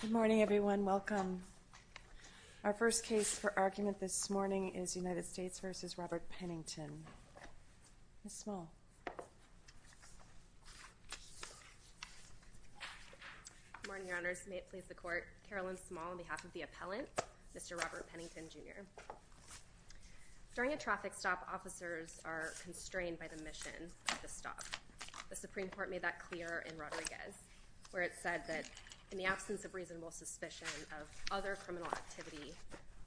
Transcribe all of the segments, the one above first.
Good morning, everyone. Welcome. Our first case for argument this morning is United States v. Robert Pennington. Ms. Small. Good morning, Your Honors. May it please the Court. Carolyn Small on behalf of the appellant, Mr. Robert Pennington, Jr. During a traffic stop, officers are constrained by the mission of the stop. The Supreme Court made that clear in Rodriguez, where it said that in the absence of reasonable suspicion of other criminal activity,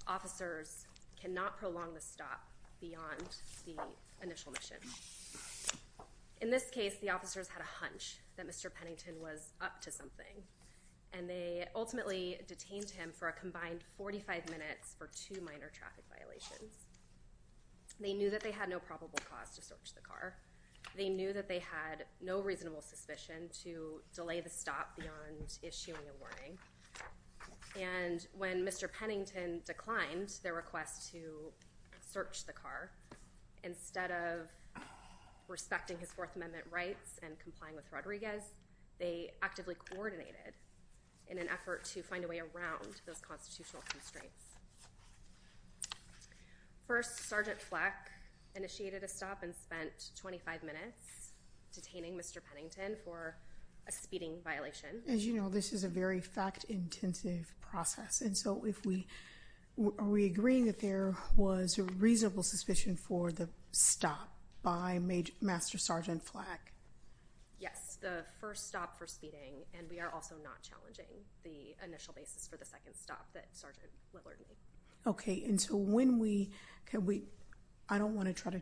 officers cannot prolong the stop. In this case, the officers had a hunch that Mr. Pennington was up to something, and they ultimately detained him for a combined 45 minutes for two minor traffic violations. They knew that they had no probable cause to search the car. They knew that they had no reasonable suspicion to delay the stop beyond issuing a warning. And when Mr. Pennington declined their request to search the car, instead of respecting his Fourth Amendment rights and complying with Rodriguez, they actively coordinated in an effort to find a way around those constitutional constraints. First, Sergeant Fleck initiated a stop and spent 25 minutes detaining Mr. Pennington for a speeding violation. As you know, this is a very fact-intensive process, and so are we agreeing that there was a reasonable suspicion for the stop by Master Sergeant Fleck? Yes, the first stop for speeding, and we are also not challenging the initial basis for the second stop that Sergeant Lillard made. Okay, and so when we—I don't want to try to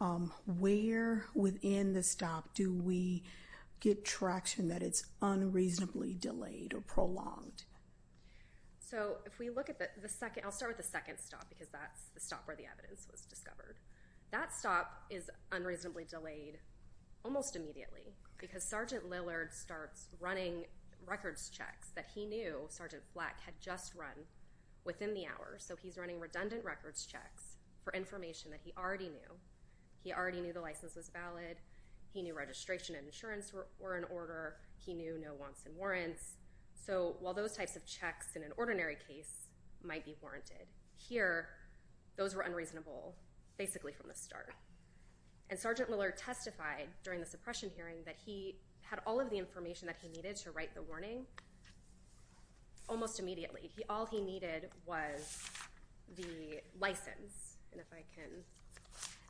truncate—where within the stop do we get traction that it's unreasonably delayed or prolonged? So if we look at the second—I'll start with the second stop, because that's the stop where the evidence was discovered. That stop is unreasonably delayed almost immediately, because Sergeant Lillard starts running records checks that he knew Sergeant Fleck had just run within the hour, so he's running redundant records checks for information that he already knew. He already knew the license was valid. He knew registration and insurance were in order. He knew no wants and warrants. So while those types of checks in an ordinary case might be warranted, here those were unreasonable basically from the start. And Sergeant Lillard testified during the suppression hearing that he had all of the information that he needed to write the warning almost immediately. All he needed was the license, and if I can—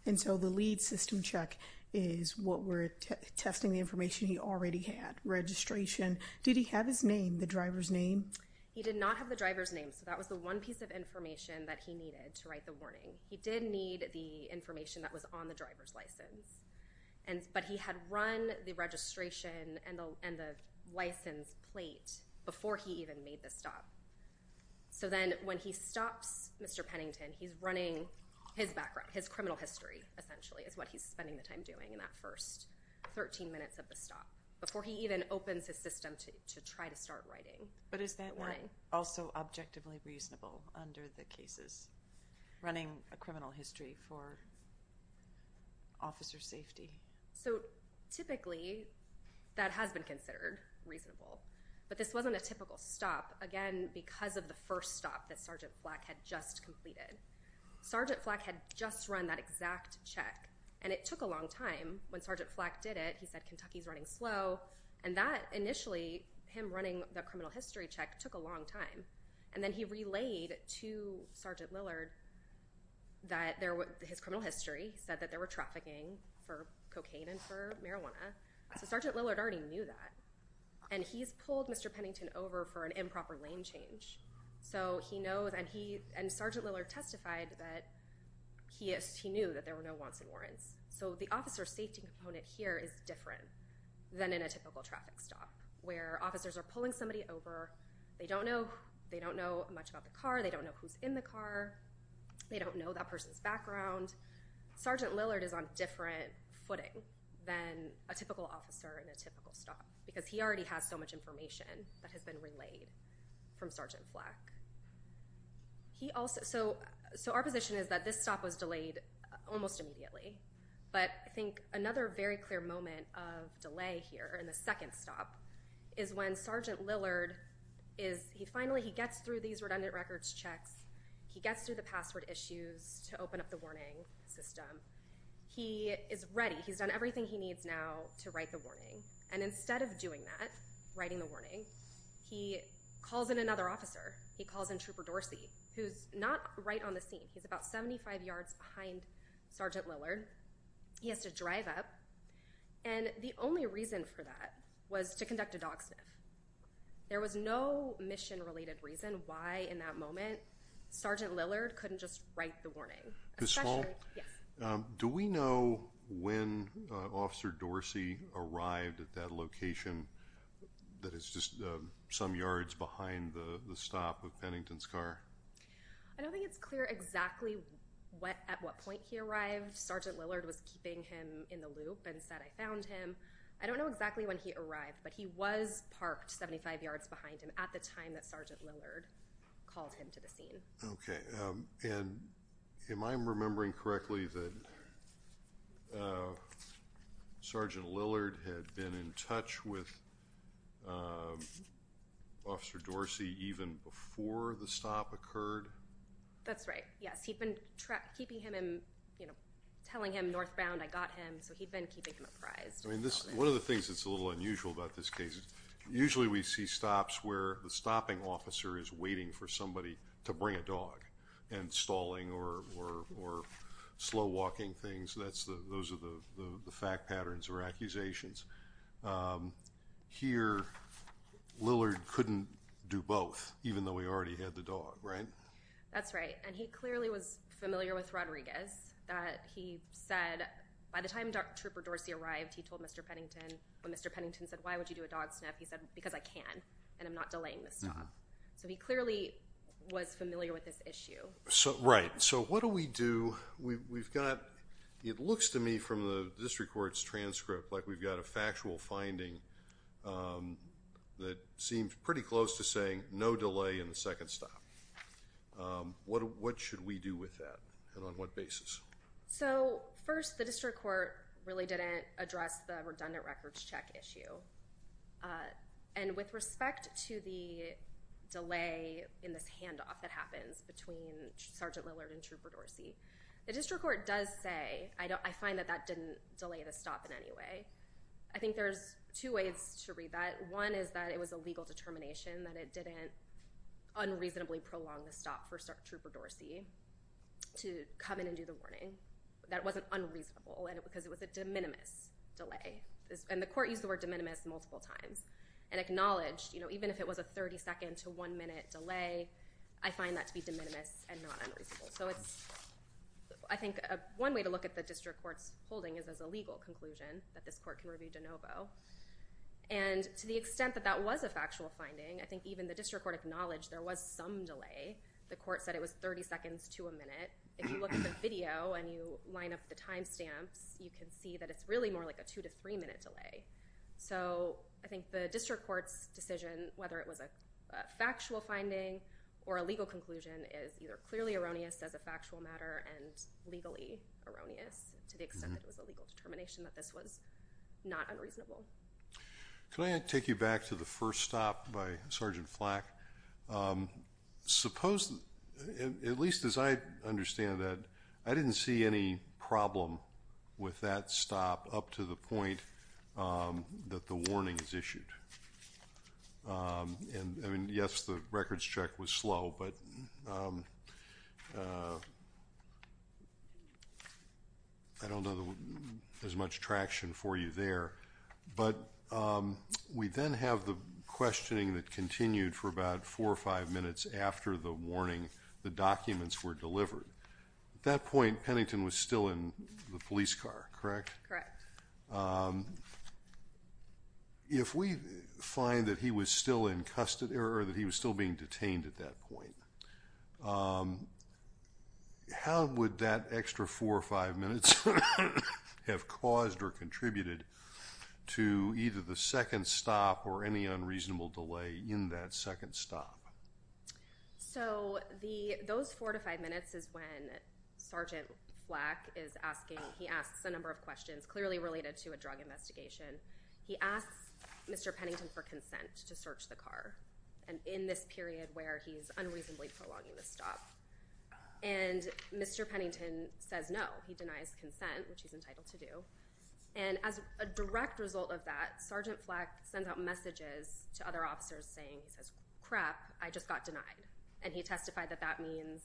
And so the lead system check is what we're testing the information he already had, registration. Did he have his name, the driver's name? He did not have the driver's name, so that was the one piece of information that he needed to write the warning. He did need the information that was on the driver's license, but he had run the registration and the license plate before he even made the stop. So then when he stops Mr. Pennington, he's running his background, his criminal history essentially is what he's spending the time doing in that first 13 minutes of the stop, before he even opens his system to try to start writing. But is that also objectively reasonable under the cases, running a criminal history for officer safety? So typically that has been considered reasonable, but this wasn't a typical stop, again because of the first stop that Sergeant Flack had just completed. Sergeant Flack had just run that exact check, and it took a long time. When Sergeant Flack did it, he said Kentucky's running slow, and that initially, him running the criminal history check, took a long time. And then he relayed to Sergeant Lillard that his criminal history said that they were trafficking for cocaine and for marijuana. So Sergeant Lillard already knew that, and he's pulled Mr. Pennington over for an improper lane change. And Sergeant Lillard testified that he knew that there were no wants and warrants. So the officer safety component here is different than in a typical traffic stop, where officers are pulling somebody over, they don't know much about the car, they don't know who's in the car, they don't know that person's background. Sergeant Lillard is on different footing than a typical officer in a typical stop, because he already has so much information that has been relayed from Sergeant Flack. So our position is that this stop was delayed almost immediately. But I think another very clear moment of delay here in the second stop is when Sergeant Lillard finally gets through these redundant records checks, he gets through the password issues to open up the warning system, he is ready, he's done everything he needs now to write the warning. And instead of doing that, writing the warning, he calls in another officer. He calls in Trooper Dorsey, who's not right on the scene. He's about 75 yards behind Sergeant Lillard. He has to drive up, and the only reason for that was to conduct a dog sniff. There was no mission-related reason why in that moment Sergeant Lillard couldn't just write the warning. Do we know when Officer Dorsey arrived at that location that is just some yards behind the stop of Pennington's car? I don't think it's clear exactly at what point he arrived. Sergeant Lillard was keeping him in the loop and said, I found him. I don't know exactly when he arrived, but he was parked 75 yards behind him at the time that Sergeant Lillard called him to the scene. Okay. And am I remembering correctly that Sergeant Lillard had been in touch with Officer Dorsey even before the stop occurred? That's right, yes. He'd been keeping him, you know, telling him northbound, I got him, so he'd been keeping him apprised. One of the things that's a little unusual about this case is usually we see stops where the stopping officer is waiting for somebody to bring a dog, and stalling or slow walking things, those are the fact patterns or accusations. Here, Lillard couldn't do both, even though he already had the dog, right? That's right, and he clearly was familiar with Rodriguez, that he said, by the time Trooper Dorsey arrived, he told Mr. Pennington, when Mr. Pennington said, why would you do a dog sniff, he said, because I can, and I'm not delaying the stop. So he clearly was familiar with this issue. Right, so what do we do? We've got, it looks to me from the District Court's transcript like we've got a factual finding that seems pretty close to saying no delay in the second stop. What should we do with that, and on what basis? So, first, the District Court really didn't address the redundant records check issue. And with respect to the delay in this handoff that happens between Sergeant Lillard and Trooper Dorsey, the District Court does say, I find that that didn't delay the stop in any way. I think there's two ways to read that. One is that it was a legal determination that it didn't unreasonably prolong the stop for Trooper Dorsey to come in and do the warning. That wasn't unreasonable, because it was a de minimis delay. And the court used the word de minimis multiple times and acknowledged, you know, even if it was a 30-second to one-minute delay, I find that to be de minimis and not unreasonable. So it's, I think one way to look at the District Court's holding is as a legal conclusion that this court can review de novo. And to the extent that that was a factual finding, I think even the District Court acknowledged there was some delay. The court said it was 30 seconds to a minute. If you look at the video and you line up the timestamps, you can see that it's really more like a two- to three-minute delay. So I think the District Court's decision, whether it was a factual finding or a legal conclusion, is either clearly erroneous as a factual matter and legally erroneous to the extent that it was a legal determination that this was not unreasonable. Can I take you back to the first stop by Sergeant Flack? Suppose, at least as I understand that, I didn't see any problem with that stop up to the point that the warning is issued. And, I mean, yes, the records check was slow, but I don't know there's much traction for you there. But we then have the questioning that continued for about four or five minutes after the warning, the documents were delivered. At that point, Pennington was still in the police car, correct? Correct. If we find that he was still in custody or that he was still being detained at that point, how would that extra four or five minutes have caused or contributed to either the second stop or any unreasonable delay in that second stop? So those four to five minutes is when Sergeant Flack is asking, he asks a number of questions clearly related to a drug investigation. He asks Mr. Pennington for consent to search the car in this period where he's unreasonably prolonging the stop. And Mr. Pennington says no. He denies consent, which he's entitled to do. And as a direct result of that, Sergeant Flack sends out messages to other officers saying, he says, crap, I just got denied. And he testified that that means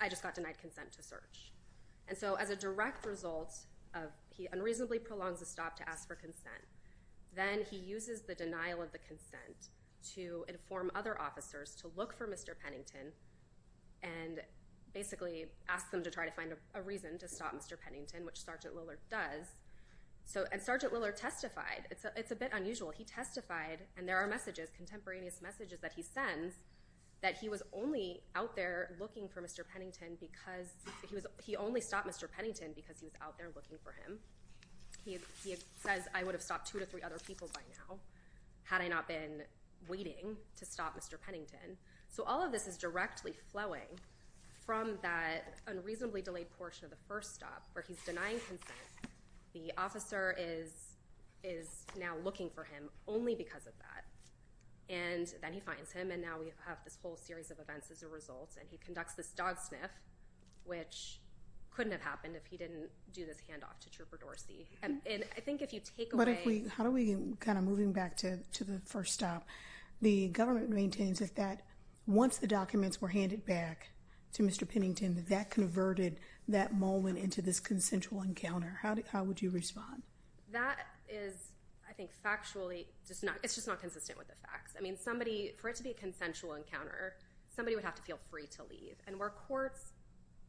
I just got denied consent to search. And so as a direct result of he unreasonably prolongs the stop to ask for consent, then he uses the denial of the consent to inform other officers to look for Mr. Pennington. And basically asks them to try to find a reason to stop Mr. Pennington, which Sergeant Lillard does. And Sergeant Lillard testified. It's a bit unusual. He testified, and there are messages, contemporaneous messages that he sends, that he was only out there looking for Mr. Pennington because he only stopped Mr. Pennington because he was out there looking for him. He says, I would have stopped two to three other people by now had I not been waiting to stop Mr. Pennington. So all of this is directly flowing from that unreasonably delayed portion of the first stop where he's denying consent. The officer is now looking for him only because of that. And then he finds him, and now we have this whole series of events as a result. And he conducts this dog sniff, which couldn't have happened if he didn't do this handoff to Trooper Dorsey. But how do we, kind of moving back to the first stop, the government maintains that once the documents were handed back to Mr. Pennington, that that converted that moment into this consensual encounter. How would you respond? That is, I think, factually, it's just not consistent with the facts. I mean, somebody, for it to be a consensual encounter, somebody would have to feel free to leave. And where courts,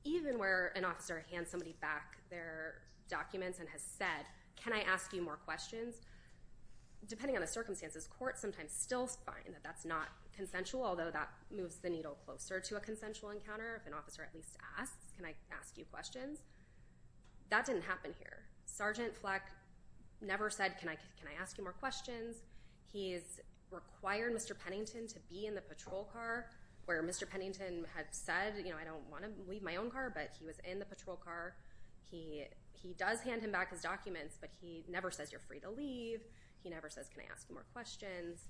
even where an officer hands somebody back their documents and has said, can I ask you more questions? Depending on the circumstances, courts sometimes still find that that's not consensual, although that moves the needle closer to a consensual encounter. If an officer at least asks, can I ask you questions? That didn't happen here. Sergeant Fleck never said, can I ask you more questions? He has required Mr. Pennington to be in the patrol car, where Mr. Pennington had said, you know, I don't want to leave my own car, but he was in the patrol car. He does hand him back his documents, but he never says, you're free to leave. He never says, can I ask you more questions?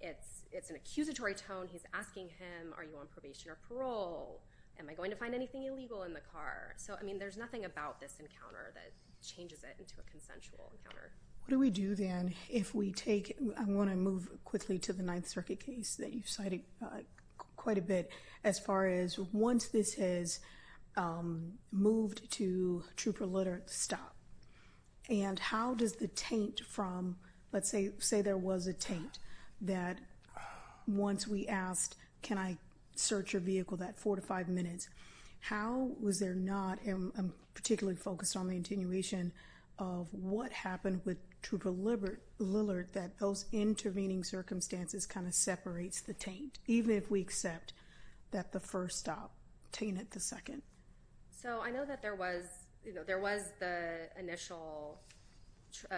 It's an accusatory tone. He's asking him, are you on probation or parole? Am I going to find anything illegal in the car? So, I mean, there's nothing about this encounter that changes it into a consensual encounter. What do we do then if we take it? I want to move quickly to the Ninth Circuit case that you cited quite a bit as far as once this has moved to true proletariat stop. And how does the taint from, let's say there was a taint that once we asked, can I search your vehicle that four to five minutes? How was there not, and I'm particularly focused on the attenuation of what happened to deliberate Lillard, that those intervening circumstances kind of separates the taint, even if we accept that the first stop tainted the second. So, I know that there was, you know, there was the initial,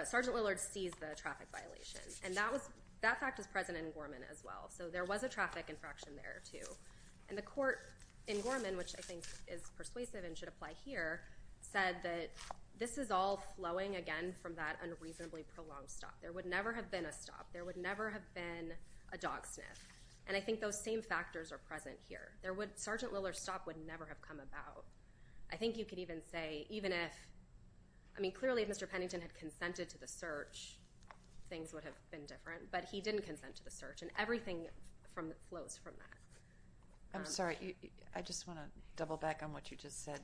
Sergeant Lillard seized the traffic violation. And that was, that fact is present in Gorman as well. So, there was a traffic infraction there too. And the court in Gorman, which I think is persuasive and should apply here, said that this is all flowing again from that unreasonably prolonged stop. There would never have been a stop. There would never have been a dog sniff. And I think those same factors are present here. There would, Sergeant Lillard's stop would never have come about. I think you could even say, even if, I mean, clearly if Mr. Pennington had consented to the search, things would have been different. But he didn't consent to the search. And everything flows from that. I'm sorry. I just want to double back on what you just said.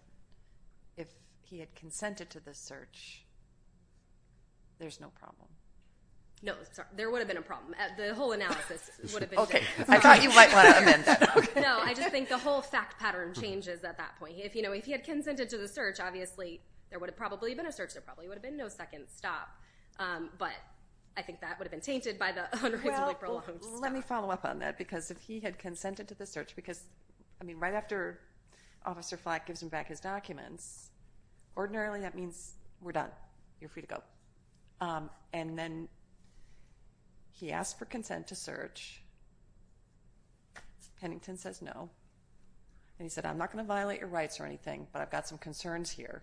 If he had consented to the search, there's no problem. No. There would have been a problem. The whole analysis would have been different. Okay. I thought you might want to amend that. No. I just think the whole fact pattern changes at that point. If, you know, if he had consented to the search, obviously there would have probably been a search. There probably would have been no second stop. But I think that would have been tainted by the hundreds of April loans and stuff. Well, let me follow up on that. Because if he had consented to the search, because, I mean, right after Officer Flack gives him back his documents, ordinarily that means we're done. You're free to go. And then he asked for consent to search. Mr. Pennington says no. And he said, I'm not going to violate your rights or anything, but I've got some concerns here.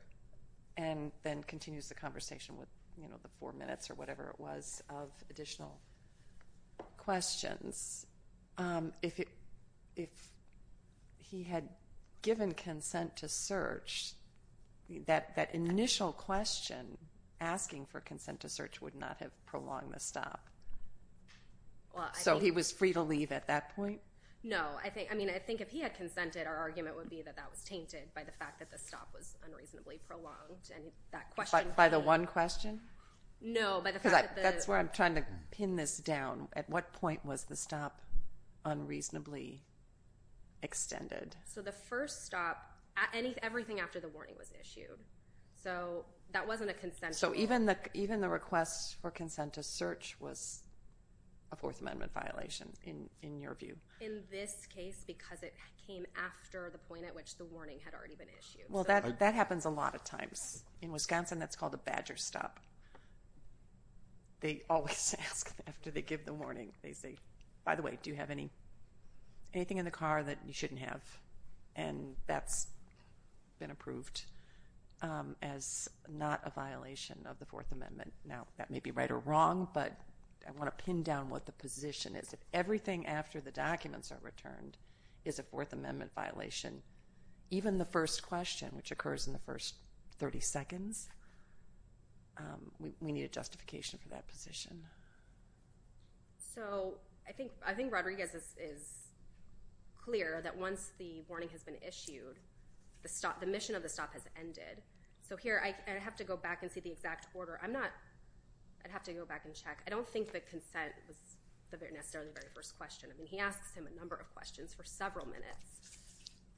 And then continues the conversation with, you know, the four minutes or whatever it was of additional questions. If he had given consent to search, that initial question, asking for consent to search, would not have prolonged the stop. So he was free to leave at that point? No. I mean, I think if he had consented, our argument would be that that was tainted by the fact that the stop was unreasonably prolonged. By the one question? No. Because that's where I'm trying to pin this down. At what point was the stop unreasonably extended? So the first stop, everything after the warning was issued. So that wasn't a consent. So even the request for consent to search was a Fourth Amendment violation in your view? In this case, because it came after the point at which the warning had already been issued. Well, that happens a lot of times. In Wisconsin, that's called a badger stop. They always ask after they give the warning, they say, by the way, do you have anything in the car that you shouldn't have? And that's been approved as not a violation of the Fourth Amendment. Now, that may be right or wrong, but I want to pin down what the position is. If everything after the documents are returned is a Fourth Amendment violation, even the first question, which occurs in the first 30 seconds, we need a justification for that position. So I think Rodriguez is clear that once the warning has been issued, the mission of the stop has ended. So here I have to go back and see the exact order. I'd have to go back and check. I don't think the consent was necessarily the very first question. I mean, he asks him a number of questions for several minutes.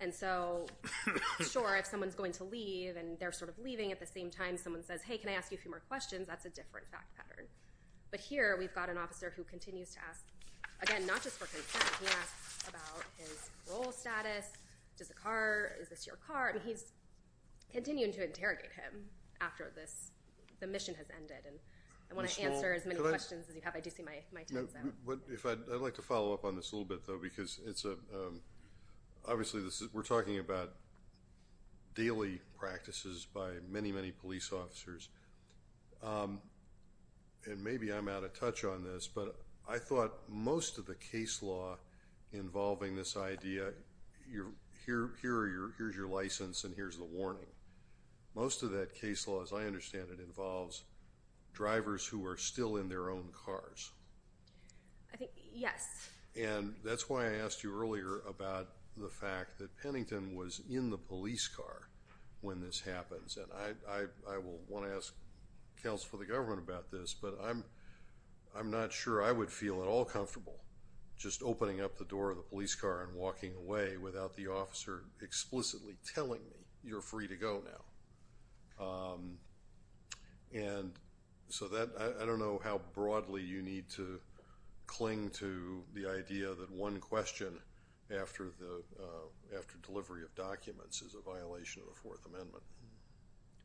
And so, sure, if someone's going to leave and they're sort of leaving at the same time, someone says, hey, can I ask you a few more questions? That's a different fact pattern. But here we've got an officer who continues to ask, again, not just for consent, he asks about his role status, does the car, is this your car? And he's continuing to interrogate him after the mission has ended. And I want to answer as many questions as you have. I do see my time's up. I'd like to follow up on this a little bit, though, because it's a – obviously we're talking about daily practices by many, many police officers. And maybe I'm out of touch on this, but I thought most of the case law involving this idea, here's your license and here's the warning, most of that case law, as I understand it, involves drivers who are still in their own cars. Yes. And that's why I asked you earlier about the fact that Pennington was in the police car when this happens. And I will want to ask counsel for the government about this, but I'm not sure I would feel at all comfortable just opening up the door of the police car and walking away without the officer explicitly telling me you're free to go now. And so that – I don't know how broadly you need to cling to the idea that one question after delivery of documents is a violation of the Fourth Amendment.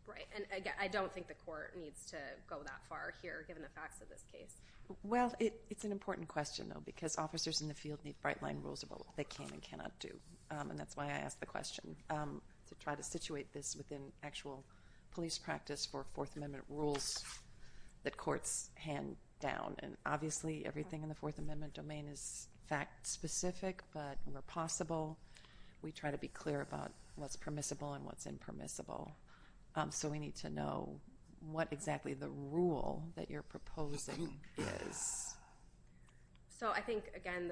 Right. And I don't think the court needs to go that far here, given the facts of this case. Well, it's an important question, though, because officers in the field need bright-line rules about what they can and cannot do. And that's why I asked the question, to try to situate this within actual police practice for Fourth Amendment rules that courts hand down. And obviously everything in the Fourth Amendment domain is fact-specific, but where possible we try to be clear about what's permissible and what's impermissible. So we need to know what exactly the rule that you're proposing is. So I think, again,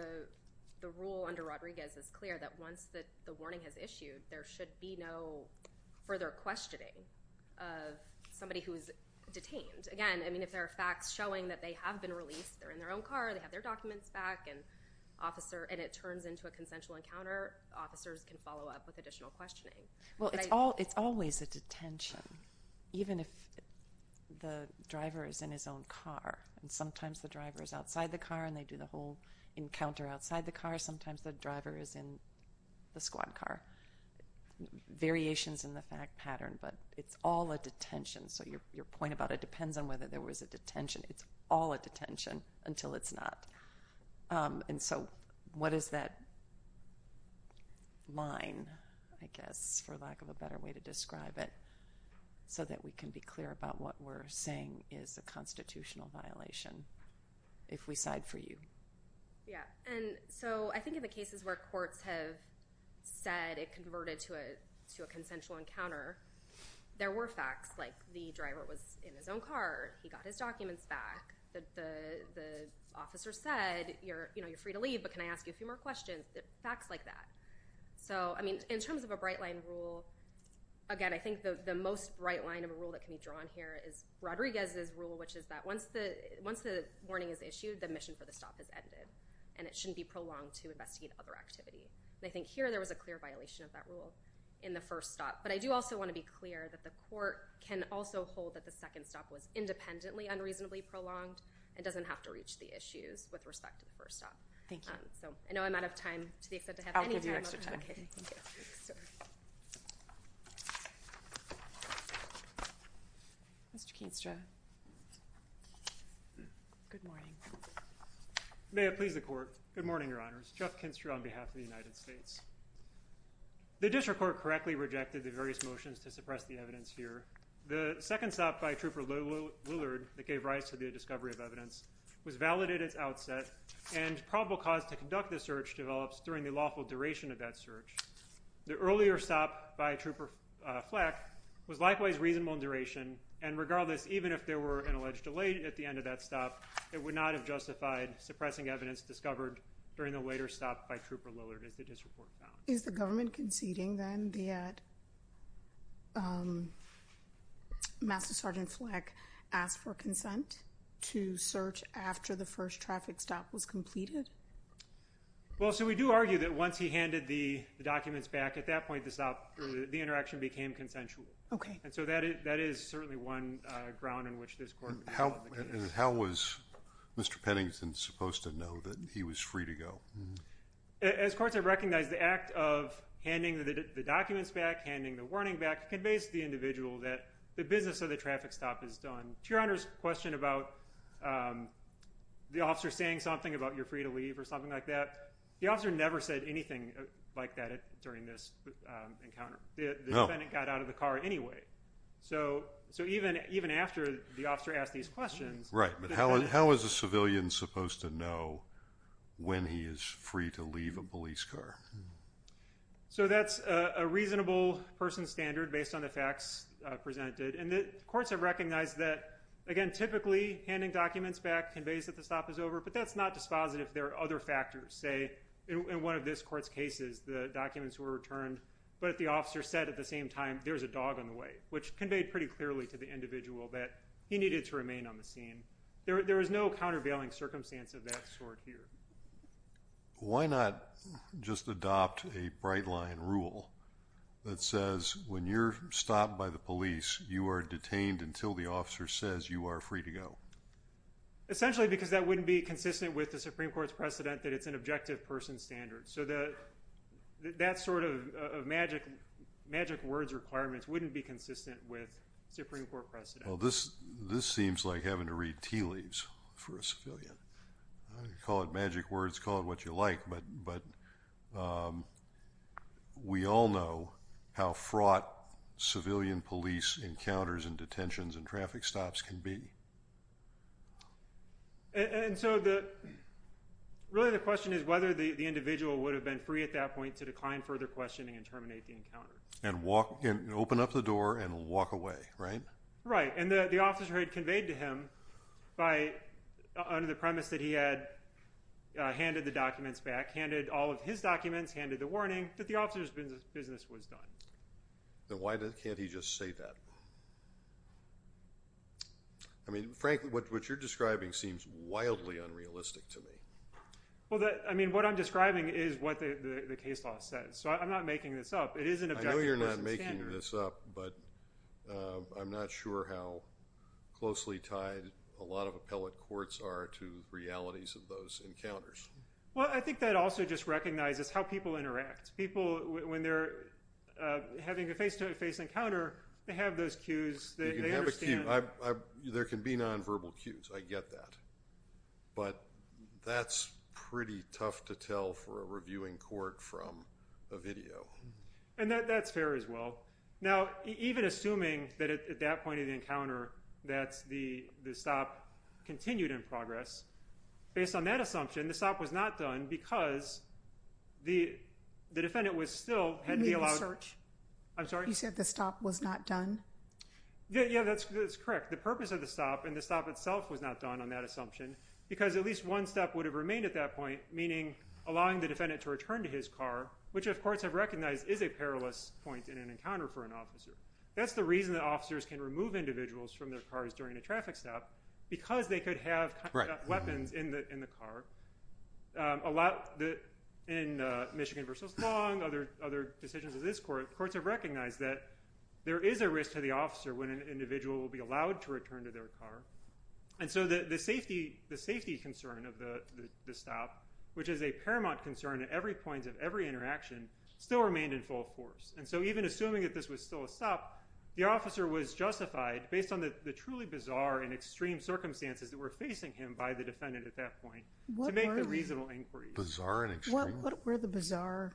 the rule under Rodriguez is clear that once the warning is issued, there should be no further questioning of somebody who is detained. Again, I mean, if there are facts showing that they have been released, they're in their own car, they have their documents back, and it turns into a consensual encounter, officers can follow up with additional questioning. Well, it's always a detention, even if the driver is in his own car. And sometimes the driver is outside the car and they do the whole encounter outside the car. Sometimes the driver is in the squad car. Variations in the fact pattern, but it's all a detention. So your point about it depends on whether there was a detention. It's all a detention until it's not. And so what is that line, I guess, for lack of a better way to describe it, so that we can be clear about what we're saying is a constitutional violation if we side for you? Yeah, and so I think in the cases where courts have said it converted to a consensual encounter, there were facts like the driver was in his own car, he got his documents back, the officer said, you know, you're free to leave, but can I ask you a few more questions? Facts like that. So, I mean, in terms of a bright line rule, again, I think the most bright line of a rule that can be drawn here is Rodriguez's rule, which is that once the warning is issued, the mission for the stop has ended, and it shouldn't be prolonged to investigate other activity. And I think here there was a clear violation of that rule in the first stop. But I do also want to be clear that the court can also hold that the second stop was independently unreasonably prolonged and doesn't have to reach the issues with respect to the first stop. Thank you. I know I'm out of time. I'll give you extra time. Mr. Kinstra. Good morning. May it please the Court. Good morning, Your Honors. Jeff Kinstra on behalf of the United States. The district court correctly rejected the various motions to suppress the evidence here. The second stop by Trooper Willard that gave rise to the discovery of evidence was valid at its outset and probable cause to conduct the search develops during the lawful duration of that search. The earlier stop by Trooper Fleck was likewise reasonable in duration, and regardless, even if there were an alleged delay at the end of that stop, it would not have justified suppressing evidence discovered during the later stop by Trooper Willard, as the district court found. Is the government conceding then that Master Sergeant Fleck asked for consent to search after the first traffic stop was completed? Well, so we do argue that once he handed the documents back, at that point, the interaction became consensual. Okay. And so that is certainly one ground in which this court would have held the case. And how was Mr. Pennington supposed to know that he was free to go? As courts have recognized, the act of handing the documents back, handing the warning back, conveys to the individual that the business of the traffic stop is done. To Your Honor's question about the officer saying something about you're free to leave or something like that, the officer never said anything like that during this encounter. The defendant got out of the car anyway. So even after the officer asked these questions. Right. But how is a civilian supposed to know when he is free to leave a police car? So that's a reasonable person standard based on the facts presented. And the courts have recognized that, again, typically handing documents back conveys that the stop is over, but that's not dispositive. There are other factors. Say, in one of this court's cases, the documents were returned, but the officer said at the same time, there's a dog on the way, which conveyed pretty clearly to the individual that he needed to remain on the scene. There is no countervailing circumstance of that sort here. Why not just adopt a bright line rule that says when you're stopped by the police, you are detained until the officer says you are free to go? Essentially because that wouldn't be consistent with the Supreme Court's precedent that it's an objective person standard. So that sort of magic words requirement wouldn't be consistent with Supreme Court precedent. Well, this seems like having to read tea leaves for a civilian. Call it magic words, call it what you like, but we all know how fraught civilian police encounters and detentions and traffic stops can be. And so really the question is whether the individual would have been free at that point to decline further questioning and terminate the encounter. And open up the door and walk away, right? Right. And the officer had conveyed to him under the premise that he had handed the documents back handed all of his documents, handed the warning, that the officer's business was done. Then why can't he just say that? I mean, frankly, what you're describing seems wildly unrealistic to me. Well, I mean, what I'm describing is what the case law says. So I'm not making this up. It is an objective person standard. I know you're not making this up, but I'm not sure how closely tied a lot of appellate courts are to realities of those encounters. Well, I think that also just recognizes how people interact. People, when they're having a face-to-face encounter, they have those cues. They understand. They can have a cue. There can be nonverbal cues. I get that. But that's pretty tough to tell for a reviewing court from a video. And that's fair as well. Now, even assuming that at that point of the encounter that the stop continued in progress, based on that assumption, the stop was not done because the defendant was still... You mean the search? I'm sorry? You said the stop was not done? Yeah, that's correct. The purpose of the stop and the stop itself was not done on that assumption because at least one step would have remained at that point, meaning allowing the defendant to return to his car, which of course I've recognized is a perilous point in an encounter for an officer. That's the reason that officers can remove individuals from their cars during a traffic stop, because they could have weapons in the car. In Michigan v. Long, other decisions of this court, courts have recognized that there is a risk to the officer when an individual will be allowed to return to their car. And so the safety concern of the stop, which is a paramount concern at every point of every interaction, still remained in full force. And so even assuming that this was still a stop, the officer was justified based on the truly bizarre and extreme circumstances that were facing him by the defendant at that point to make a reasonable inquiry. Bizarre and extreme? What were the bizarre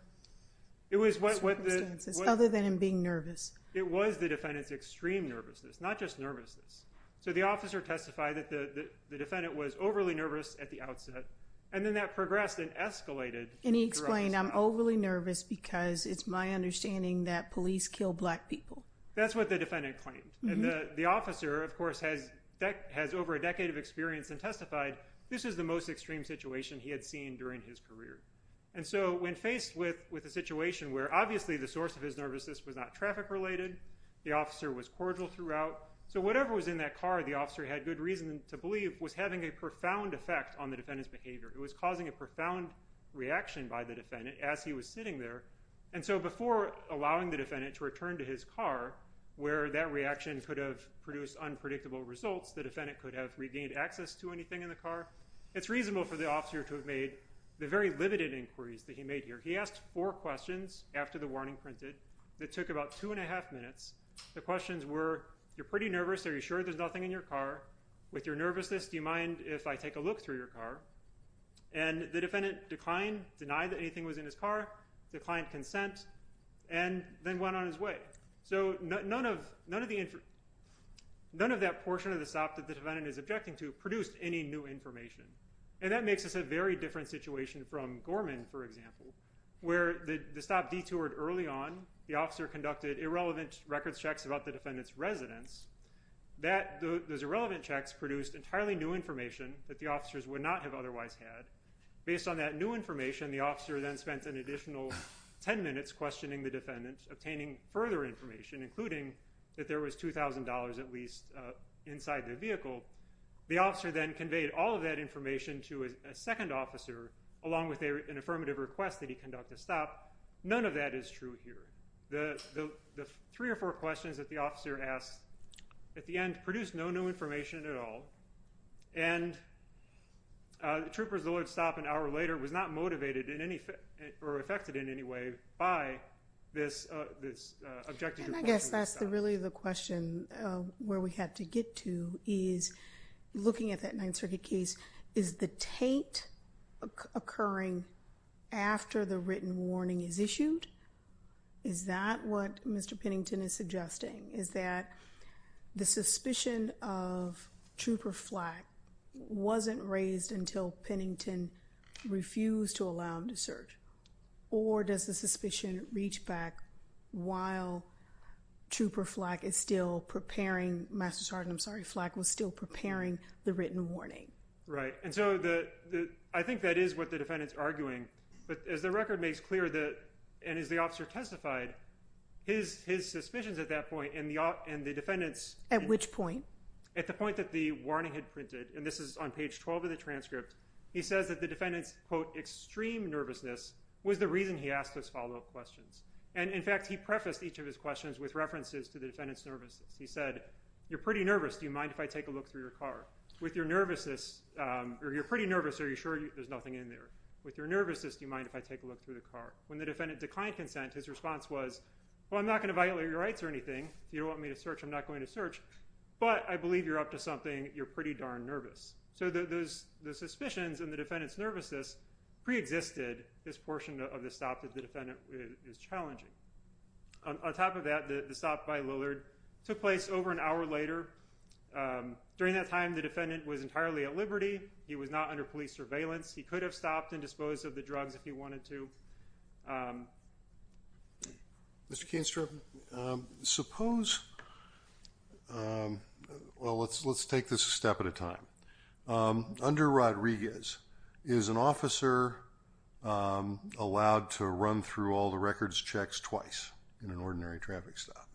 circumstances other than him being nervous? It was the defendant's extreme nervousness, not just nervousness. So the officer testified that the defendant was overly nervous at the outset, and then that progressed and escalated. And he explained, I'm overly nervous because it's my understanding that police kill black people. That's what the defendant claimed. And the officer, of course, has over a decade of experience and testified, this is the most extreme situation he had seen during his career. And so when faced with a situation where, obviously, the source of his nervousness was not traffic-related, the officer was cordial throughout, so whatever was in that car the officer had good reason to believe was having a profound effect on the defendant's behavior. It was causing a profound reaction by the defendant as he was sitting there. And so before allowing the defendant to return to his car, where that reaction could have produced unpredictable results, the defendant could have regained access to anything in the car, it's reasonable for the officer to have made the very limited inquiries that he made here. He asked four questions after the warning printed that took about two and a half minutes. The questions were, you're pretty nervous, are you sure there's nothing in your car? With your nervousness, do you mind if I take a look through your car? And the defendant declined, denied that anything was in his car, declined consent, and then went on his way. So none of that portion of the stop that the defendant is objecting to produced any new information. And that makes us a very different situation from Gorman, for example, where the stop detoured early on, the officer conducted irrelevant records checks about the defendant's residence. Those irrelevant checks produced entirely new information that the officers would not have otherwise had. Based on that new information, the officer then spent an additional ten minutes questioning the defendant, obtaining further information, including that there was $2,000 at least inside the vehicle. The officer then conveyed all of that information to a second officer, along with an affirmative request that he conduct a stop. None of that is true here. The three or four questions that the officer asked at the end produced no new information at all. And the trooper's delayed stop an hour later was not motivated in any way or affected in any way by this objective question. And I guess that's really the question where we have to get to is, looking at that Ninth Circuit case, is the taint occurring after the written warning is issued? Is that what Mr. Pennington is suggesting? Is that the suspicion of Trooper Flack wasn't raised until Pennington refused to allow him to search? Or does the suspicion reach back while Trooper Flack is still preparing, Master Sergeant, I'm sorry, Flack was still preparing the written warning? Right. And so I think that is what the defendant's arguing. But as the record makes clear, and as the officer testified, his suspicions at that point and the defendant's... At which point? At the point that the warning had printed, and this is on page 12 of the transcript, he says that the defendant's, quote, extreme nervousness was the reason he asked those follow-up questions. And, in fact, he prefaced each of his questions with references to the defendant's nervousness. He said, you're pretty nervous. Do you mind if I take a look through your car? With your nervousness, or you're pretty nervous, are you sure there's nothing in there? With your nervousness, do you mind if I take a look through the car? When the defendant declined consent, his response was, well, I'm not going to violate your rights or anything. If you don't want me to search, I'm not going to search. But I believe you're up to something. You're pretty darn nervous. So the suspicions and the defendant's nervousness preexisted this portion of the stop that the defendant is challenging. On top of that, the stop by Lillard took place over an hour later. During that time, the defendant was entirely at liberty. He was not under police surveillance. He could have stopped and disposed of the drugs if he wanted to. Mr. Kainstrom, suppose, well, let's take this a step at a time. Under Rodriguez, is an officer allowed to run through all the records checks twice in an ordinary traffic stop?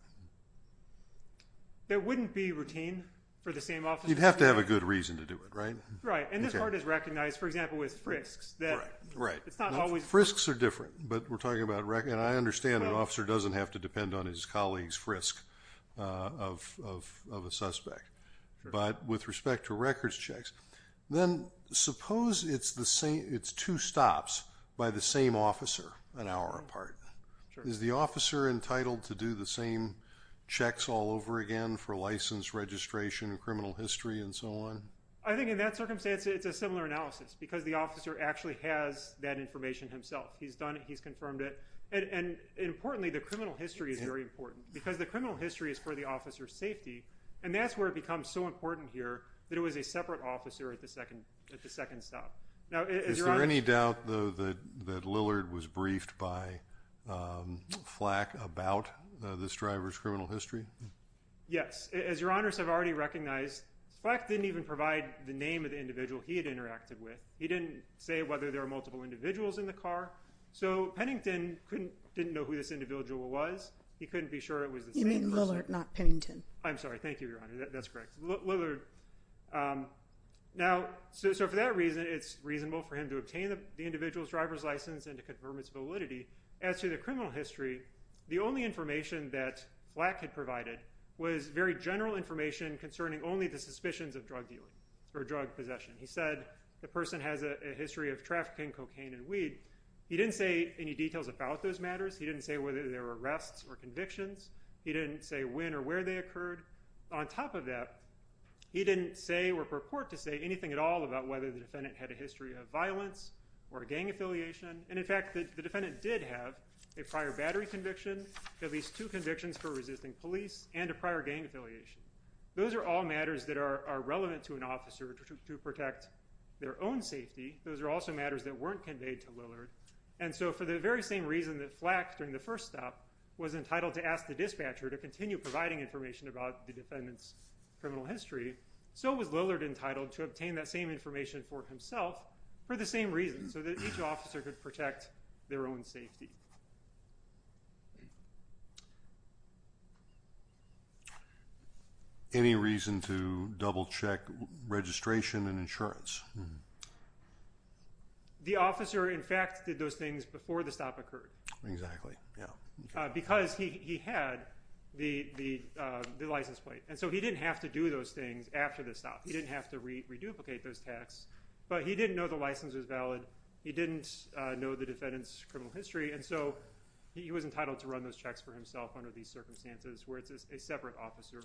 That wouldn't be routine for the same officer. You'd have to have a good reason to do it, right? Right. And this part is recognized, for example, with frisks. Frisks are different, but we're talking about records. I understand an officer doesn't have to depend on his colleague's frisk of a suspect. But with respect to records checks, then suppose it's two stops by the same officer an hour apart. Is the officer entitled to do the same checks all over again for license, registration, criminal history, and so on? I think in that circumstance, it's a similar analysis. Because the officer actually has that information himself. He's done it. He's confirmed it. And importantly, the criminal history is very important. Because the criminal history is for the officer's safety. And that's where it becomes so important here that it was a separate officer at the second stop. Is there any doubt, though, that Lillard was briefed by Flack about this driver's criminal history? Yes. As your honors have already recognized, Flack didn't even provide the name of the individual he had interacted with. He didn't say whether there were multiple individuals in the car. So Pennington didn't know who this individual was. He couldn't be sure it was the same person. You mean Lillard, not Pennington. I'm sorry. Thank you, your honor. That's correct. Lillard. Now, so for that reason, it's reasonable for him to obtain the individual's driver's license and to confirm its validity. As to the criminal history, the only information that Flack had provided was very general information concerning only the suspicions of drug dealing or drug possession. He said the person has a history of trafficking cocaine and weed. He didn't say any details about those matters. He didn't say whether there were arrests or convictions. He didn't say when or where they occurred. On top of that, he didn't say or purport to say anything at all about whether the defendant had a history of violence or a gang affiliation. And, in fact, the defendant did have a prior battery conviction, at least two convictions for resisting police, and a prior gang affiliation. Those are all matters that are relevant to an officer to protect their own safety. Those are also matters that weren't conveyed to Lillard. And so for the very same reason that Flack, during the first stop, was entitled to ask the dispatcher to continue providing information about the defendant's criminal history, so was Lillard entitled to obtain that same information for himself for the same reason, so that each officer could protect their own safety. Any reason to double-check registration and insurance? The officer, in fact, did those things before the stop occurred. Because he had the license plate. And so he didn't have to do those things after the stop. He didn't have to re-duplicate those taxes. But he didn't know the license was valid. He didn't know the defendant's criminal history. And so he was entitled to run those checks for himself under these conditions. So that's a separate officer.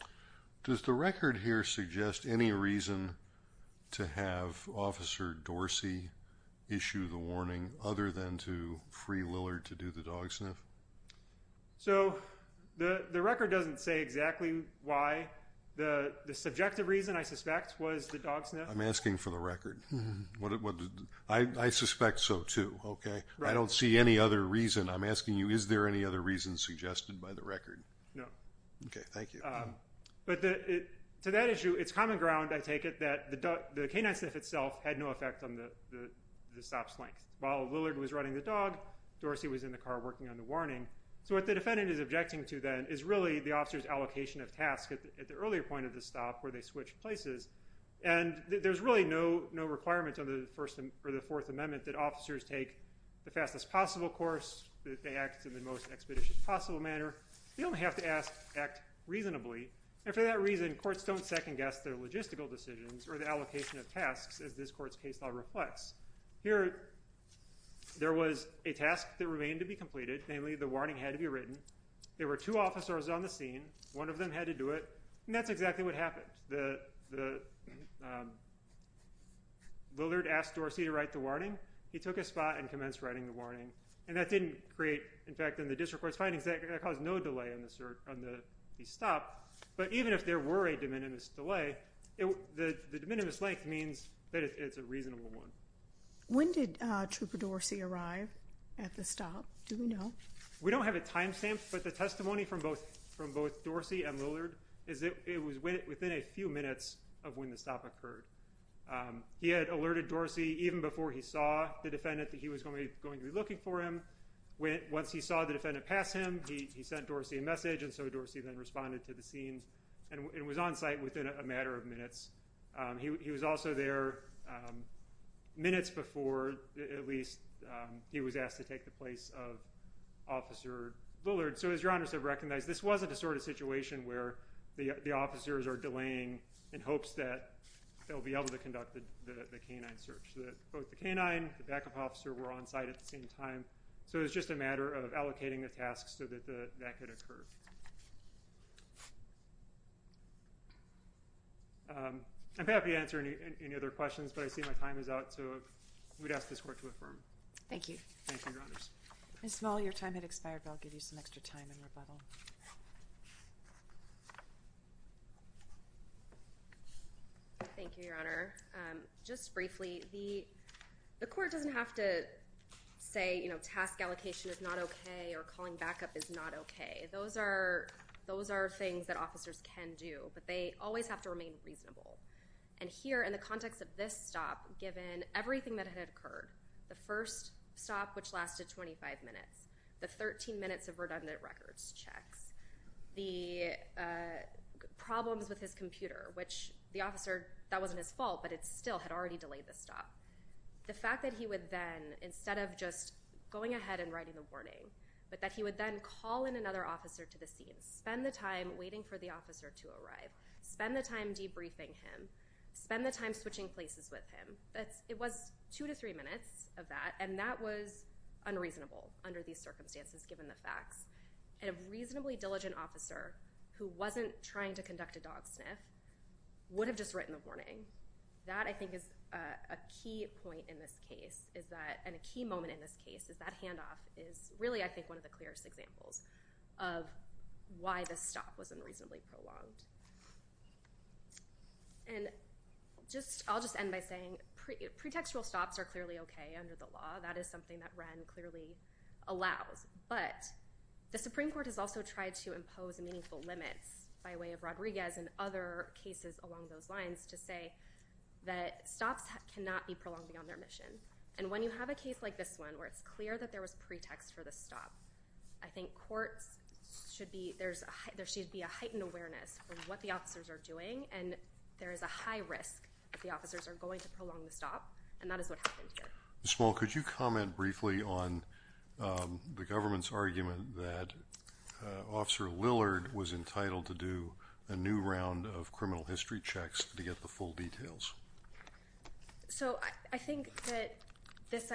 Does the record here suggest any reason to have officer Dorsey issue the warning other than to free Lillard to do the dog sniff? So the record doesn't say exactly why. The subjective reason, I suspect, was the dog sniff. I'm asking for the record. I suspect so too. Okay. I don't see any other reason. I'm asking you, is there any other reason suggested by the record? No. Okay. Thank you. But to that issue, it's common ground, I take it, that the canine sniff itself had no effect on the stop's length. While Lillard was running the dog, Dorsey was in the car working on the warning. So what the defendant is objecting to then is really the officer's allocation of tasks at the earlier point of the stop where they switched places. And there's really no requirement under the Fourth Amendment that officers take the fastest possible course, that they act in the most expeditious possible manner. They only have to act reasonably. And for that reason, courts don't second guess their logistical decisions or the allocation of tasks as this court's case law reflects. Here, there was a task that remained to be completed, namely, the warning had to be written. There were two officers on the scene. One of them had to do it. And that's exactly what happened. Lillard asked Dorsey to write the warning. He took a spot and commenced writing the warning. And that didn't create, in fact, in the district court's findings, that caused no delay on the stop. But even if there were a de minimis delay, the de minimis length means that it's a reasonable one. When did Trooper Dorsey arrive at the stop? Do we know? We don't have a timestamp, but the testimony from both Dorsey and Lillard is that it was within a few minutes of when the stop occurred. He had alerted Dorsey even before he saw the defendant that he was going to be looking for him. Once he saw the defendant pass him, he sent Dorsey a message. And so Dorsey then responded to the scenes and was on site within a matter of minutes. He was also there minutes before, at least he was asked to take the place of Officer Lillard. So as your honors have recognized, this wasn't a sort of situation where the officers are delaying in hopes that they'll be able to conduct the canine search. Both the canine, the backup officer were on site at the same time. So it was just a matter of allocating the tasks so that that could occur. I'm happy to answer any, any other questions, but I see my time is out. So we'd ask this court to affirm. Thank you. Thank you. Ms. Small, your time had expired, but I'll give you some extra time and rebuttal. Thank you, your honor. Just briefly, the, the court doesn't have to say, you know, task allocation is not okay or calling backup is not okay. Those are, those are things that officers can do, but they always have to remain reasonable. And here in the context of this stop, given everything that had occurred, the first stop, which lasted 25 minutes, the 13 minutes of redundant records checks the problems with his computer, which the officer that wasn't his fault, but it's still had already delayed the stop. The fact that he would then, instead of just going ahead and writing the warning, but that he would then call in another officer to the scene, spend the time waiting for the officer to arrive, spend the time debriefing him, spend the time switching places with him. That's it was two to three minutes of that. And that was unreasonable under these circumstances, given the facts. And a reasonably diligent officer who wasn't trying to conduct a dog sniff would have just written a warning. That I think is a key point in this case is that, and a key moment in this case is that handoff is really, I think one of the clearest examples of why the stop was unreasonably prolonged and just, I'll just end by saying pre pretextual stops are clearly okay under the law. That is something that ran clearly allows, but the Supreme court has also tried to impose meaningful limits by way of stops cannot be prolonged beyond their mission. And when you have a case like this one, where it's clear that there was pretext for the stop, I think courts should be, there's a, there should be a heightened awareness of what the officers are doing. And there is a high risk that the officers are going to prolong the stop. And that is what happened here. Small. Could you comment briefly on the government's argument that officer Lillard was entitled to do a new round of criminal history checks to get the full details? So I think that this,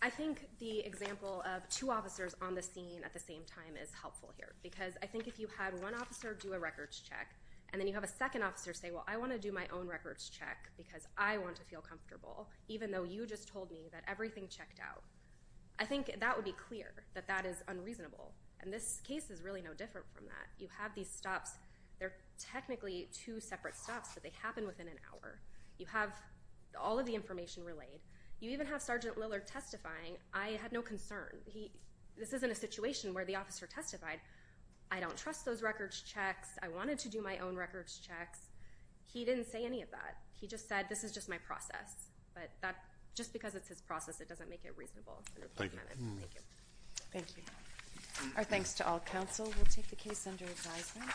I think the example of two officers on the scene at the same time is helpful here, because I think if you had one officer do a records check, and then you have a second officer say, well, I want to do my own records check because I want to feel comfortable, even though you just told me that everything checked out, I think that would be clear that that is unreasonable. And this case is really no different from that. You have these stops. They're technically two separate stops, but they happen within an hour. You have all of the information relayed. You even have Sergeant Lillard testifying. I had no concern. He, this isn't a situation where the officer testified. I don't trust those records checks. I wanted to do my own records checks. He didn't say any of that. He just said, this is just my process, but that just because it's his process, it doesn't make it reasonable. Thank you. Thank you. Our thanks to all counsel. We'll take the case under advisement.